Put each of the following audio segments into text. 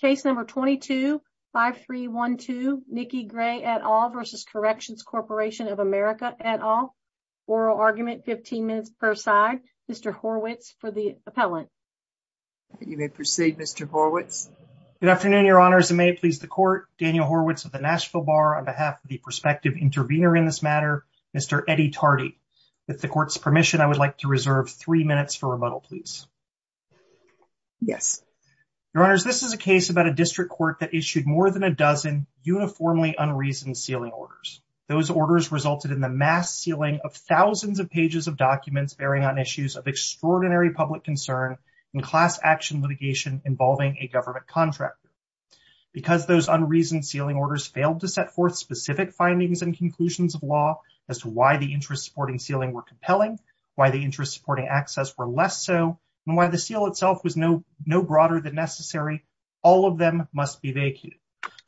Case No. 22-5312, Nikki Grae et al. v. Corrections Corporation of America et al. Oral argument, 15 minutes per side. Mr. Horwitz for the appellant. You may proceed, Mr. Horwitz. Good afternoon, Your Honors. And may it please the Court, Daniel Horwitz of the Nashville Bar on behalf of the prospective intervener in this matter, Mr. Eddie Tardy. With the Court's permission, I would like to reserve three minutes for rebuttal, please. Yes. Your Honors, this is a case about a district court that issued more than a dozen uniformly unreasoned sealing orders. Those orders resulted in the mass sealing of thousands of pages of documents bearing on issues of extraordinary public concern and class action litigation involving a government contractor. Because those unreasoned sealing orders failed to set forth specific findings and conclusions of law as to why the interest-supporting sealing were compelling, why the interest-supporting access were less so, and why the seal itself was no broader than necessary, all of them must be vacated.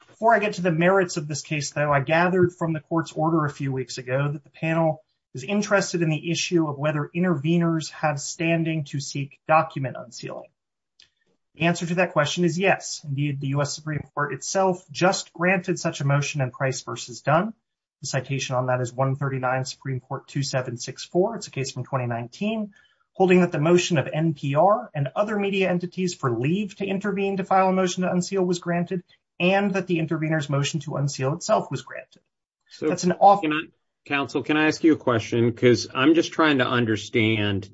Before I get to the merits of this case, though, I gathered from the Court's order a few weeks ago that the panel is interested in the issue of whether interveners have standing to seek document unsealing. The answer to that question is yes. Indeed, the U.S. Supreme Court itself just granted such a motion in Price v. Dunn. The citation on that is 139 Supreme Court 2764. It's a case from 2019, holding that the motion of NPR and other media entities for leave to intervene to file a motion to unseal was granted and that the intervener's motion to unseal itself was granted. So that's an offer. Counsel, can I ask you a question? Because I'm just trying to understand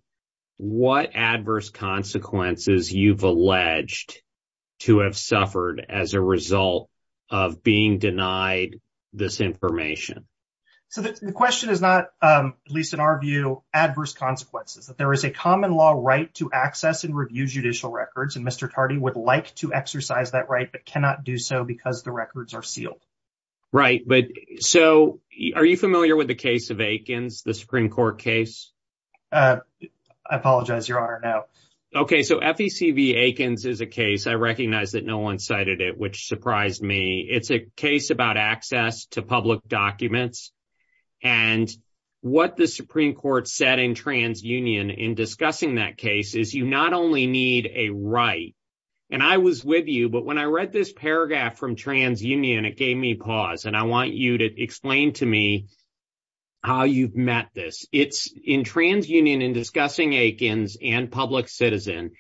what adverse consequences you've alleged to have suffered as a result of being denied this information. So the question is not, at least in our view, adverse consequences. There is a common law right to access and review judicial records, and Mr. Tardy would like to exercise that right but cannot do so because the records are sealed. Right, but so are you familiar with the case of Aikens, the Supreme Court case? I apologize, Your Honor, no. Okay, so FEC v. Aikens is a case, I recognize that no one cited it, which surprised me. It's a case about access to public documents and what the Supreme Court said in TransUnion in discussing that case is you not only need a right, and I was with you, but when I read this paragraph from TransUnion, it gave me pause, and I want you to explain to me how you've met this. It's in TransUnion in discussing Aikens and public citizen.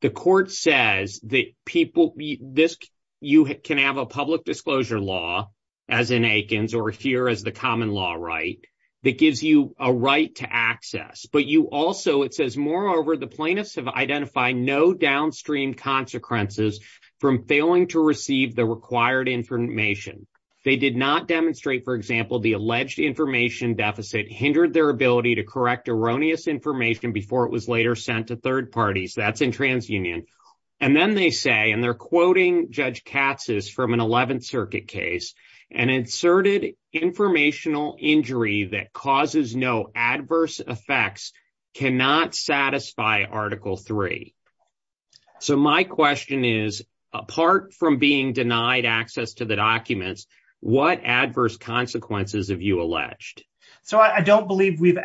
The court says that you can have a public disclosure law, as in Aikens, or here as the common law right, that gives you a right to access. But you also, it says, moreover, the plaintiffs have identified no downstream consequences from failing to receive the required information. They did not demonstrate, for example, the alleged information deficit hindered their ability to correct erroneous information before it was later sent to third parties. That's in TransUnion. And then they say, and they're quoting Judge Katz's from an 11th Circuit case, an inserted informational injury that causes no adverse effects cannot satisfy Article III. So my question is, apart from being denied access to the documents, what adverse consequences have you alleged? So I don't believe we've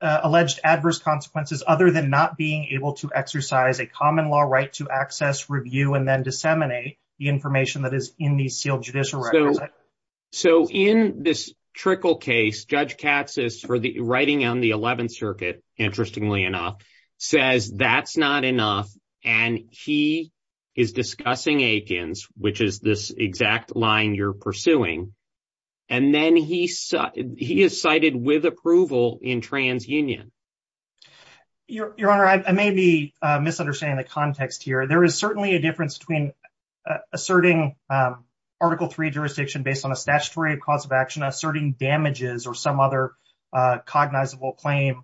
alleged adverse consequences other than not being able to exercise a common law right to access, review, and then disseminate the information that is in these sealed judicial records. So in this trickle case, Judge Katz is writing on the 11th Circuit, interestingly enough, says that's not enough. And he is discussing Aikens, which is this exact line you're pursuing. And then he is cited with approval in TransUnion. Your Honor, I may be misunderstanding the context here. There is certainly a difference between asserting Article III jurisdiction based on a statutory cause of action, asserting damages, or some other cognizable claim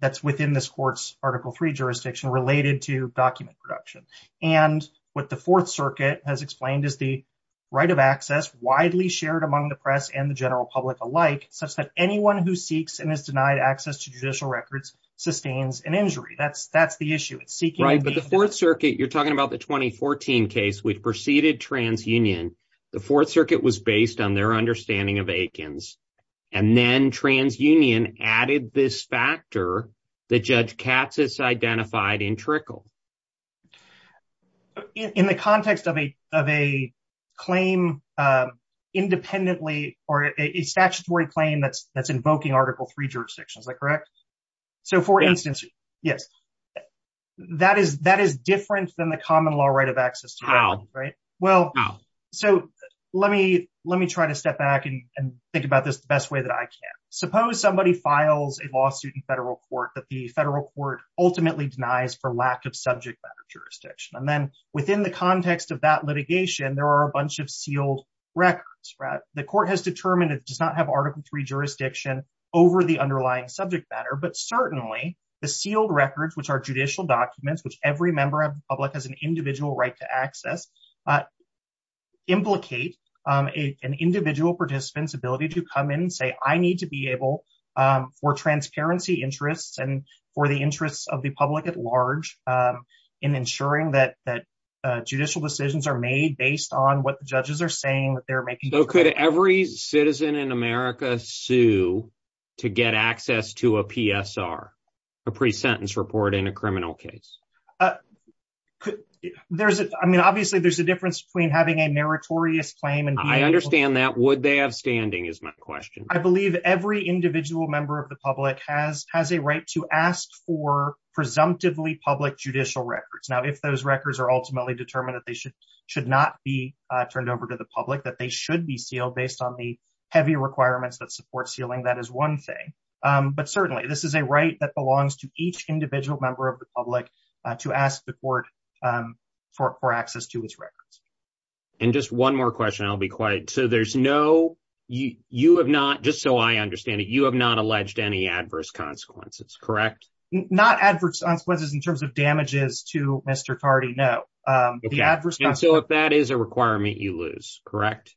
that's within this court's Article III jurisdiction related to document production. And what the Fourth Circuit has explained is the right of access, widely shared among the press and the general public alike, such that anyone who seeks and is denied access to judicial records sustains an injury. That's the issue. Right, but the Fourth Circuit, you're talking about the 2014 case, we've preceded TransUnion. The Fourth Circuit was of Aikens. And then TransUnion added this factor that Judge Katz has identified in trickle. In the context of a claim independently or a statutory claim that's invoking Article III jurisdiction, is that correct? So for instance, yes. That is different than the common law right of access. So let me try to step back and think about this the best way that I can. Suppose somebody files a lawsuit in federal court that the federal court ultimately denies for lack of subject matter jurisdiction. And then within the context of that litigation, there are a bunch of sealed records. The court has determined it does not have Article III jurisdiction over the underlying subject matter, but certainly the sealed records, which are judicial documents, which every member of the public has an individual right to access, implicate an individual participant's ability to come in and say, I need to be able for transparency interests and for the interests of the public at large in ensuring that judicial decisions are made based on what the judges are saying that they're making. So could every citizen in America sue to get access to a PSR, a pre-sentence report in a criminal case? I mean, obviously there's a difference between having a meritorious claim and being able to- I understand that. Would they have standing is my question. I believe every individual member of the public has a right to ask for presumptively public judicial records. Now, if those records are ultimately determined that they should not be turned over to the public, that they should be sealed based on the heavy requirements that support sealing, that is one thing. But certainly this is a right that belongs to each individual member of the public to ask the court for access to its records. And just one more question. I'll be quiet. So there's no- you have not, just so I understand it, you have not alleged any adverse consequences, correct? Not adverse consequences in terms of damages to Mr. Tardy, no. And so if that is a requirement, you lose, correct?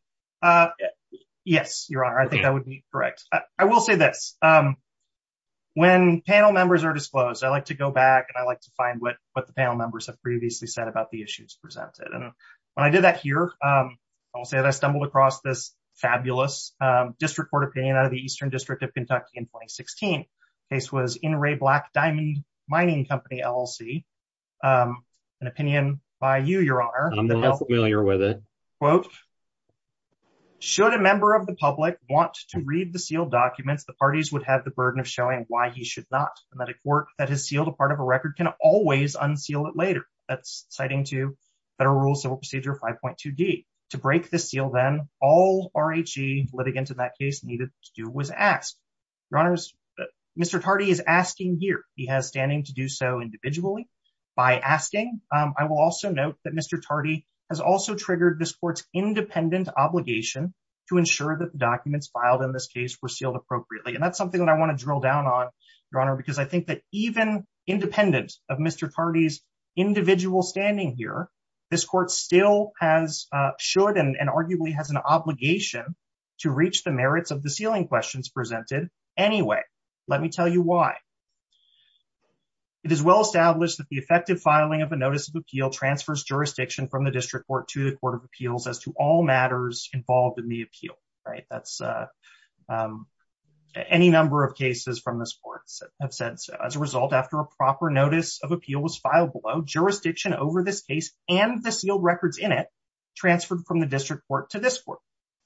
Yes, your honor. I think that would be correct. I will say this. When panel members are disclosed, I like to go back and I like to find what the panel members have previously said about the issues presented. And when I did that here, I will say that I stumbled across this fabulous district court opinion out of the Eastern District of Kentucky in 2016. The case was In Ray Black Diamond Mining Company, LLC. An opinion by you, your honor. I'm not familiar with it. Quote, should a member of the public want to read the sealed documents, the parties would have the burden of showing why he should not. A court that has sealed a part of a record can always unseal it later. That's citing to Federal Rule Civil Procedure 5.2D. To break the seal then, all RHE litigants in that case needed to do was ask. Your honors, Mr. Tardy is asking here. He has standing to do so individually. By asking, I will also note that Mr. Tardy has also triggered this court's independent obligation to ensure that the And that's something that I want to drill down on, your honor, because I think that even independent of Mr. Tardy's individual standing here, this court still has, should and arguably has an obligation to reach the merits of the sealing questions presented. Anyway, let me tell you why. It is well established that the effective filing of a notice of appeal transfers jurisdiction from the district court to the Court of Appeals as to all matters involved in the appeal, right? Any number of cases from this court have said so. As a result, after a proper notice of appeal was filed below, jurisdiction over this case and the sealed records in it transferred from the district court to this court.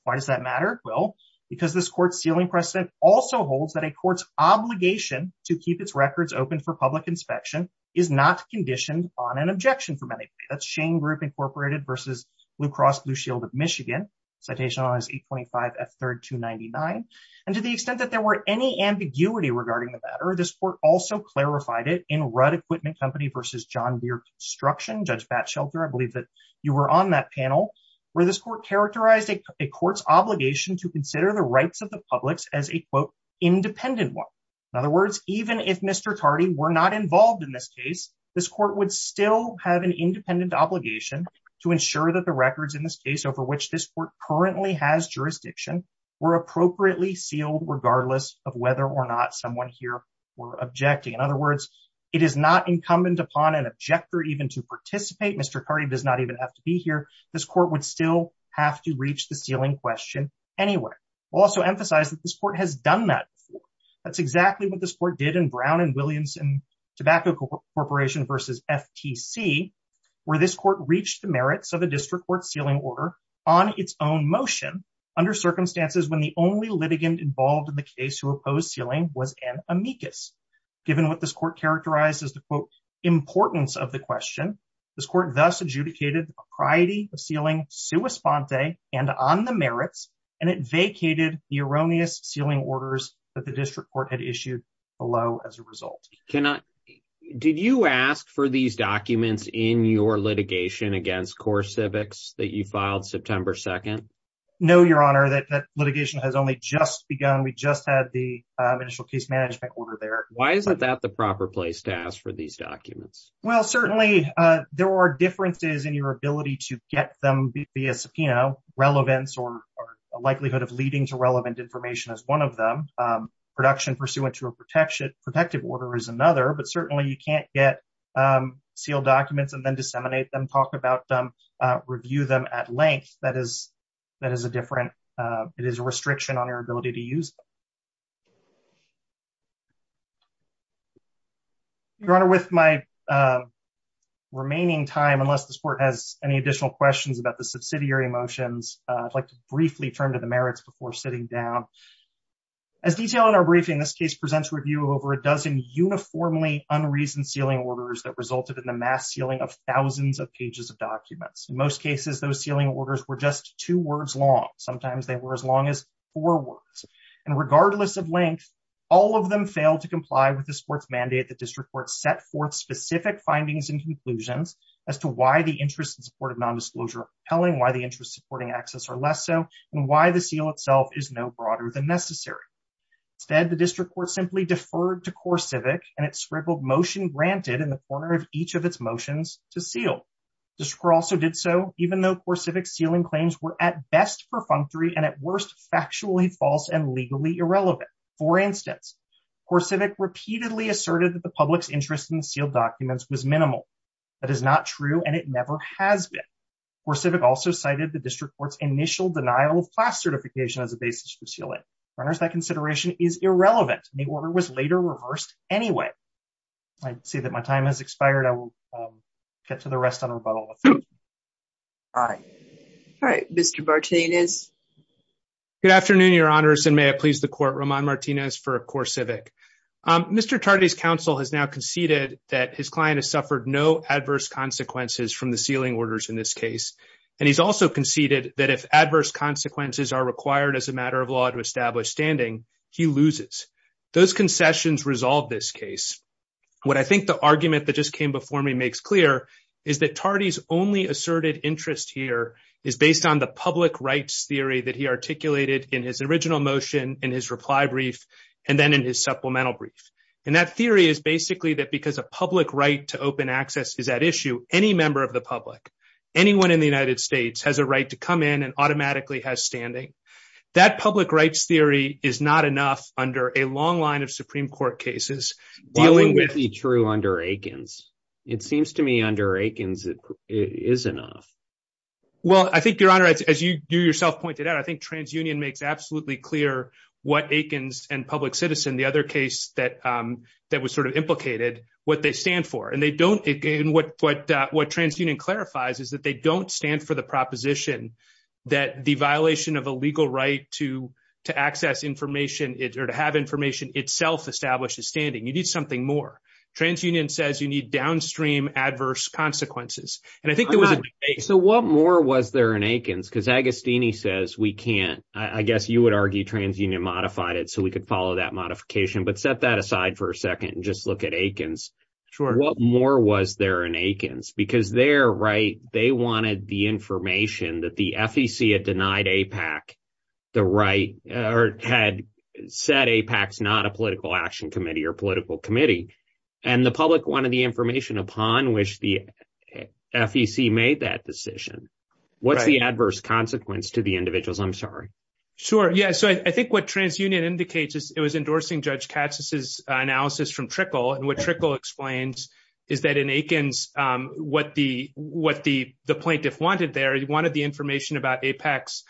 Why does that matter? Well, because this court's sealing precedent also holds that a court's obligation to keep its records open for public inspection is not conditioned on an objection from anybody. That's Shane Group Incorporated versus Blue Cross Shield of Michigan, citation on his 825 F3rd 299. And to the extent that there were any ambiguity regarding the matter, this court also clarified it in Rudd Equipment Company versus John Beard Construction, Judge Batshelter, I believe that you were on that panel, where this court characterized a court's obligation to consider the rights of the public's as a quote, independent one. In other words, even if Mr. Tardy were not involved in this case, this court would still have an independent obligation to ensure that the records in this case over which this court currently has jurisdiction were appropriately sealed regardless of whether or not someone here were objecting. In other words, it is not incumbent upon an objector even to participate. Mr. Tardy does not even have to be here. This court would still have to reach the sealing question anyway. We'll also emphasize that this court has done that before. That's exactly what this court did in Brown and Williamson Tobacco Corporation versus FTC, where this court reached the merits of the district court sealing order on its own motion under circumstances when the only litigant involved in the case who opposed sealing was an amicus. Given what this court characterized as the quote, importance of the question, this court thus adjudicated the propriety of sealing sua sponte and on the merits, and it vacated the erroneous sealing orders that the district court had issued below as a result. Did you ask for these documents in your litigation against CoreCivics that you filed September 2nd? No, your honor, that litigation has only just begun. We just had the initial case management order there. Why is that the proper place to ask for these documents? Well, certainly there are differences in your ability to get them via subpoena, relevance, or a likelihood of leading to relevant information as one of them. Production pursuant to a protective order is another, but certainly you can't get sealed documents and then disseminate them, talk about them, review them at length. That is a different, it is a restriction on your ability to use them. Your honor, with my remaining time, unless this court has any additional questions about subsidiary motions, I'd like to briefly turn to the merits before sitting down. As detailed in our briefing, this case presents a review of over a dozen uniformly unreasoned sealing orders that resulted in the mass sealing of thousands of pages of documents. In most cases, those sealing orders were just two words long. Sometimes they were as long as four words, and regardless of length, all of them failed to comply with this court's mandate. The district court set forth specific findings and conclusions as to why the interest in support of nondisclosure and why the interest in supporting access are less so, and why the seal itself is no broader than necessary. Instead, the district court simply deferred to CoreCivic and it scribbled motion granted in the corner of each of its motions to seal. The district court also did so even though CoreCivic's sealing claims were at best perfunctory and at worst factually false and legally irrelevant. For instance, CoreCivic repeatedly asserted that the public's interest in sealed documents was minimal. That is not true and it never has been. CoreCivic also cited the district court's initial denial of class certification as a basis for sealing. For others, that consideration is irrelevant and the order was later reversed anyway. I'd say that my time has expired. I will get to the rest on rebuttal. All right. All right, Mr. Martinez. Good afternoon, your honors, and may it please the court, Roman Martinez for CoreCivic. Mr. Tardy's counsel has now conceded that his client has suffered no adverse consequences from the sealing orders in this case, and he's also conceded that if adverse consequences are required as a matter of law to establish standing, he loses. Those concessions resolve this case. What I think the argument that just came before me makes clear is that Tardy's only asserted interest here is based on the public rights theory that he articulated in his original motion, in his reply brief, and then in his supplemental brief. That theory is basically that because a public right to open access is at issue, any member of the public, anyone in the United States has a right to come in and automatically has standing. That public rights theory is not enough under a long line of Supreme Court cases. Dealing with the true under Aikens. It seems to me under Aikens, it is enough. Well, I think your honor, as you yourself pointed out, I think TransUnion makes absolutely clear what Aikens and Public Citizen, the other case that was sort of implicated, what they stand for. What TransUnion clarifies is that they don't stand for the proposition that the violation of a legal right to access information or to have information itself establishes standing. You need something more. TransUnion says you need downstream adverse consequences. So what more was there in Aikens? Because Agostini says we can't, I guess you would argue TransUnion modified it so we could follow that modification, but set that aside for a second and just look at Aikens. Sure. What more was there in Aikens? Because their right, they wanted the information that the FEC had denied APAC the right or had said APAC's not a political action committee or political committee. And the public wanted information upon which the FEC made that decision. What's the adverse consequence to the individuals? I'm sorry. Sure. Yeah. So I think what TransUnion indicates is it was endorsing Judge Katz's analysis from Trickle. And what Trickle explains is that in Aikens, what the plaintiff wanted there, he wanted the information about APAC's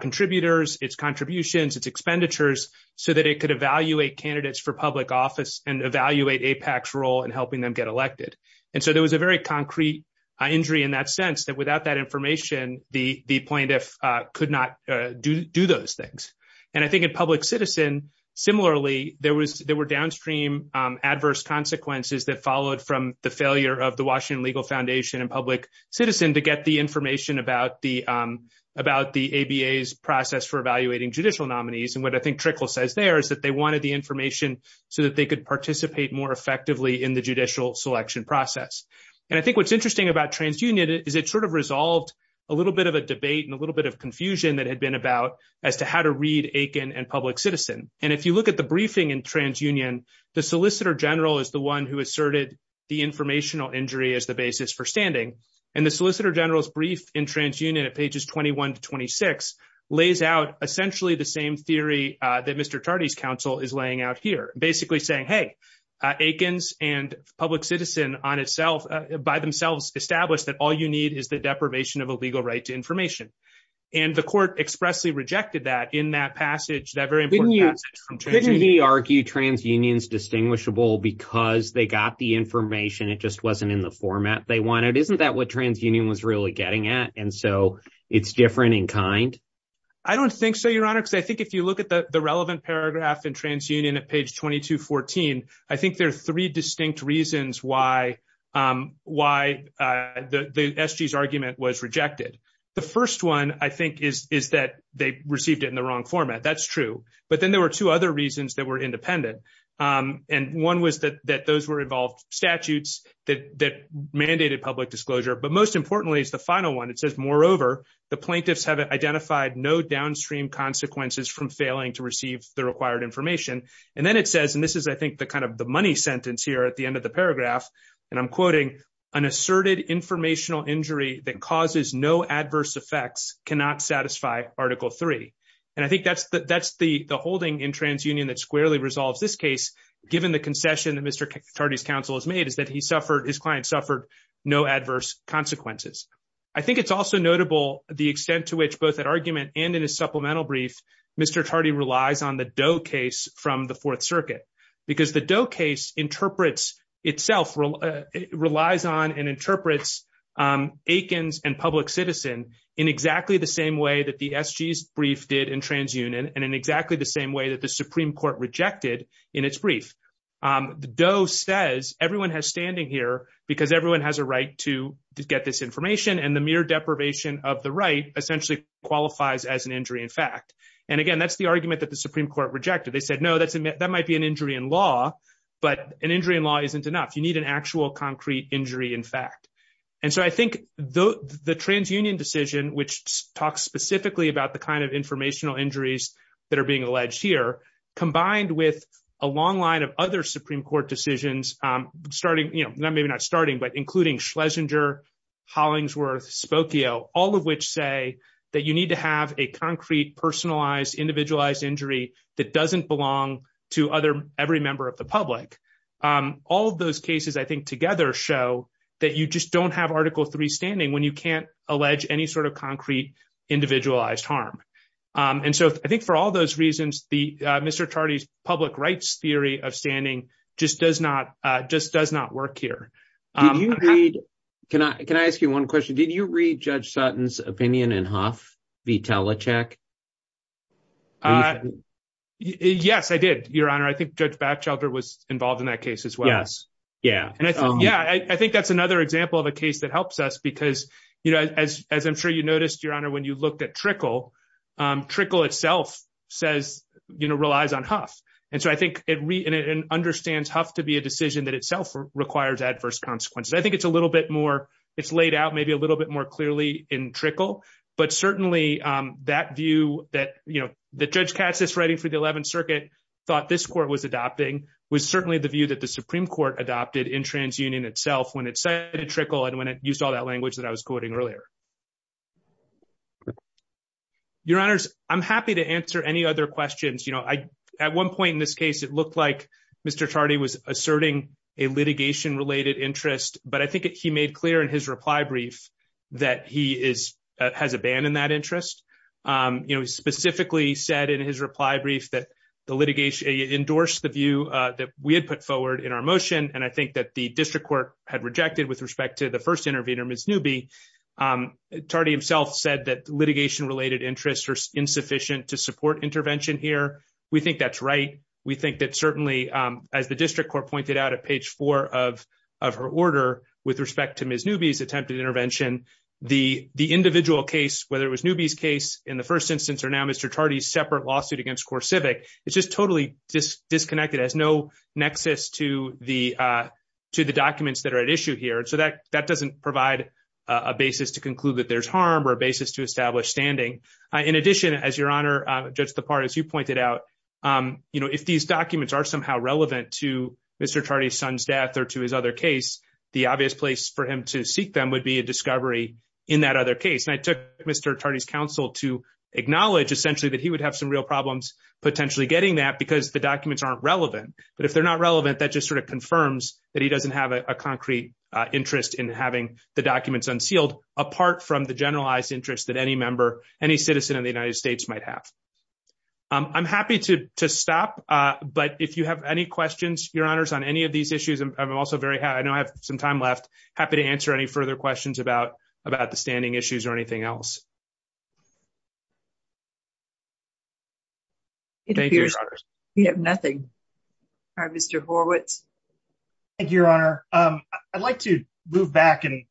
contributors, its contributions, its expenditures, so that it could evaluate candidates for public office and evaluate APAC's and helping them get elected. And so there was a very concrete injury in that sense that without that information, the plaintiff could not do those things. And I think in Public Citizen, similarly, there were downstream adverse consequences that followed from the failure of the Washington Legal Foundation and Public Citizen to get the information about the ABA's process for evaluating judicial nominees. And what I think Trickle says there is that they selection process. And I think what's interesting about TransUnion is it sort of resolved a little bit of a debate and a little bit of confusion that had been about as to how to read Aiken and Public Citizen. And if you look at the briefing in TransUnion, the Solicitor General is the one who asserted the informational injury as the basis for standing. And the Solicitor General's brief in TransUnion at pages 21 to 26 lays out essentially the same theory that Mr. Tardy's here, basically saying, hey, Aiken's and Public Citizen on itself by themselves established that all you need is the deprivation of a legal right to information. And the court expressly rejected that in that passage, that very important passage from TransUnion. Couldn't we argue TransUnion's distinguishable because they got the information, it just wasn't in the format they wanted? Isn't that what TransUnion was really getting at? And so it's different in kind? I don't think so, because I think if you look at the relevant paragraph in TransUnion at page 2214, I think there are three distinct reasons why the SG's argument was rejected. The first one, I think, is that they received it in the wrong format. That's true. But then there were two other reasons that were independent. And one was that those were involved statutes that mandated public disclosure. But most importantly is the final one. It says, moreover, the plaintiffs have identified no downstream consequences from failing to receive the required information. And then it says, and this is, I think, the kind of the money sentence here at the end of the paragraph, and I'm quoting, an asserted informational injury that causes no adverse effects cannot satisfy Article 3. And I think that's the holding in TransUnion that squarely resolves this case, given the concession that Mr. Tardy's counsel has made is that his client suffered no adverse consequences. I think it's also notable the extent to which both at argument and in a supplemental brief, Mr. Tardy relies on the Doe case from the Fourth Circuit, because the Doe case interprets itself, relies on and interprets Aikens and Public Citizen in exactly the same way that the SG's brief did in TransUnion and in exactly the same way that the Supreme Court rejected in its brief. The Doe says everyone has standing here because everyone has a right to get this information and the mere deprivation of the right essentially qualifies as an injury in fact. And again, that's the argument that the Supreme Court rejected. They said, no, that might be an injury in law, but an injury in law isn't enough. You need an actual concrete injury in fact. And so I think the TransUnion decision, which talks specifically about the kind of informational injuries that are being alleged here, combined with a long line of other Supreme Court decisions, including Schlesinger, Hollingsworth, Spokio, all of which say that you need to have a concrete, personalized, individualized injury that doesn't belong to every member of the public. All of those cases, I think, together show that you just don't have Article III standing when you can't allege any sort of concrete, individualized harm. And so I think for all those reasons, Mr. Chardy's public rights theory of standing just does not work here. Can I ask you one question? Did you read Judge Sutton's opinion in Huff v. Talachek? Yes, I did, Your Honor. I think Judge Batchelder was involved in that case as well. Yeah, I think that's another example of a case that helps us because as I'm sure you noticed, when you looked at Trickle, Trickle itself relies on Huff. And so I think it understands Huff to be a decision that itself requires adverse consequences. I think it's a little bit more, it's laid out maybe a little bit more clearly in Trickle, but certainly that view that Judge Katz is writing for the 11th Circuit thought this Court was adopting was certainly the view that the Supreme Court adopted in TransUnion itself when it cited Trickle and when it used all that language that I was quoting earlier. Your Honors, I'm happy to answer any other questions. At one point in this case, it looked like Mr. Chardy was asserting a litigation-related interest, but I think he made clear in his reply brief that he has abandoned that interest. He specifically said in his reply brief that the litigation endorsed the view that we had put forward in our motion, and I think that the District Court had rejected with respect to the first intervener, Ms. Newby. Chardy himself said that litigation-related interests are insufficient to support intervention here. We think that's right. We think that certainly as the District Court pointed out at page four of her order with respect to Ms. Newby's attempted intervention, the individual case, whether it was Newby's case in the first instance or now Mr. Chardy's separate lawsuit against CoreCivic, it's just totally disconnected. It has no nexus to the documents that are at issue here, and so that doesn't provide a basis to conclude that there's harm or a basis to establish standing. In addition, as Your Honor, Judge Depard, as you pointed out, if these documents are somehow relevant to Mr. Chardy's son's death or to his other case, the obvious place for him to seek them would be a discovery in that other case, and I took Mr. Chardy's counsel to potentially getting that because the documents aren't relevant, but if they're not relevant, that just sort of confirms that he doesn't have a concrete interest in having the documents unsealed apart from the generalized interest that any member, any citizen in the United States might have. I'm happy to stop, but if you have any questions, Your Honors, on any of these issues, I'm also very happy to answer any further questions about the standing issues or anything else. It appears we have nothing. All right, Mr. Horwitz. Thank you, Your Honor. I'd like to move back and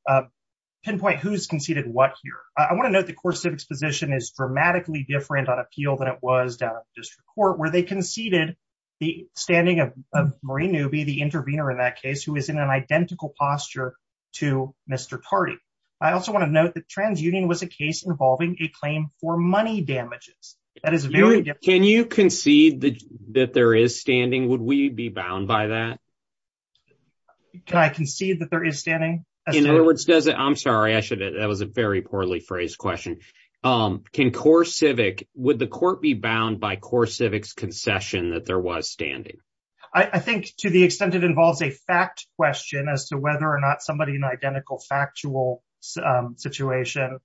pinpoint who's conceded what here. I want to note the core civics position is dramatically different on appeal than it was down at the district court where they conceded the standing of Marie Newby, the intervener in that case, who is in an identical posture to Mr. Chardy. I also want to note that TransUnion was a case involving a claim for money damages. That is very different. Can you concede that there is standing? Would we be bound by that? Can I concede that there is standing? In other words, does it, I'm sorry, I should, that was a very poorly phrased question. Can core civic, would the court be bound by core civics concession that there was standing? I think to the extent it involves a fact question as to whether or not somebody in identical factual situation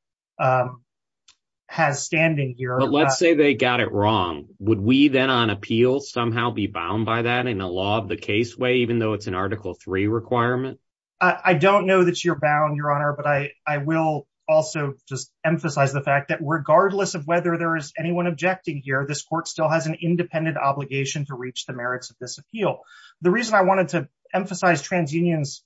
has standing here. Let's say they got it wrong. Would we then on appeal somehow be bound by that in a law of the case way, even though it's an article three requirement? I don't know that you're bound, Your Honor, but I will also just emphasize the fact that regardless of whether there is anyone objecting here, this court still has an independent obligation to reach the merits of this appeal. The reason I wanted to emphasize TransUnion's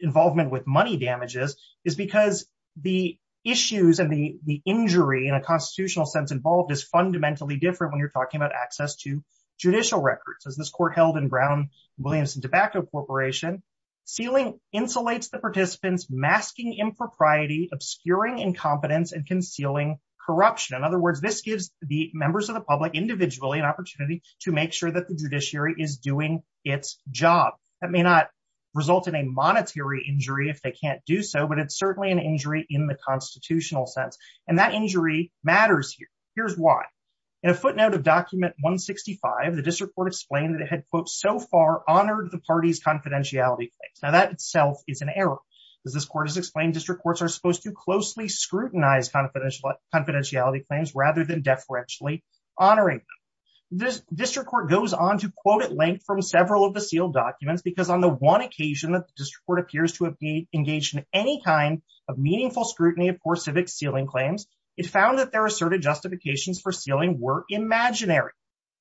involvement with money damages is because the issues and the injury in a constitutional sense involved is fundamentally different when you're talking about access to judicial records. As this court held in Brown, Williams and Tobacco Corporation, sealing insulates the participants, masking impropriety, obscuring incompetence, and concealing corruption. In other words, this gives the members of the public individually an is doing its job. That may not result in a monetary injury if they can't do so, but it's certainly an injury in the constitutional sense, and that injury matters here. Here's why. In a footnote of document 165, the district court explained that it had, quote, so far honored the party's confidentiality claims. Now that itself is an error. As this court has explained, district courts are supposed to closely scrutinize confidentiality claims rather than deferentially honoring them. This district court goes on to quote at length from several of the sealed documents because on the one occasion that the district court appears to have been engaged in any kind of meaningful scrutiny of poor civic sealing claims, it found that their asserted justifications for sealing were imaginary.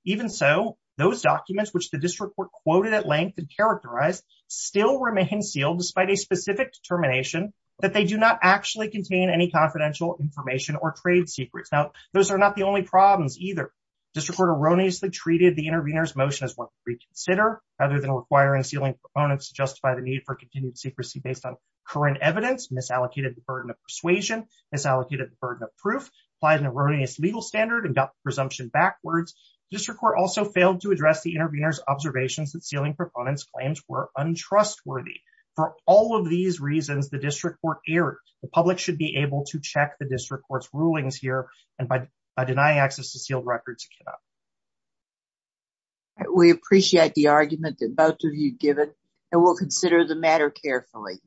Even so, those documents which the district court quoted at length and characterized still remain sealed despite a specific determination that they do not actually contain any confidential information or trade secrets. Now those are not the only problems either. District court erroneously treated the intervener's motion as one to reconsider rather than requiring sealing proponents to justify the need for continued secrecy based on current evidence, misallocated the burden of persuasion, misallocated the burden of proof, applied an erroneous legal standard, and got the presumption backwards. District court also failed to address the intervener's observations that sealing proponents' claims were untrustworthy. For all of these reasons, the district court erred. The public should be able to check the records. We appreciate the argument that both of you given and we'll consider the matter carefully.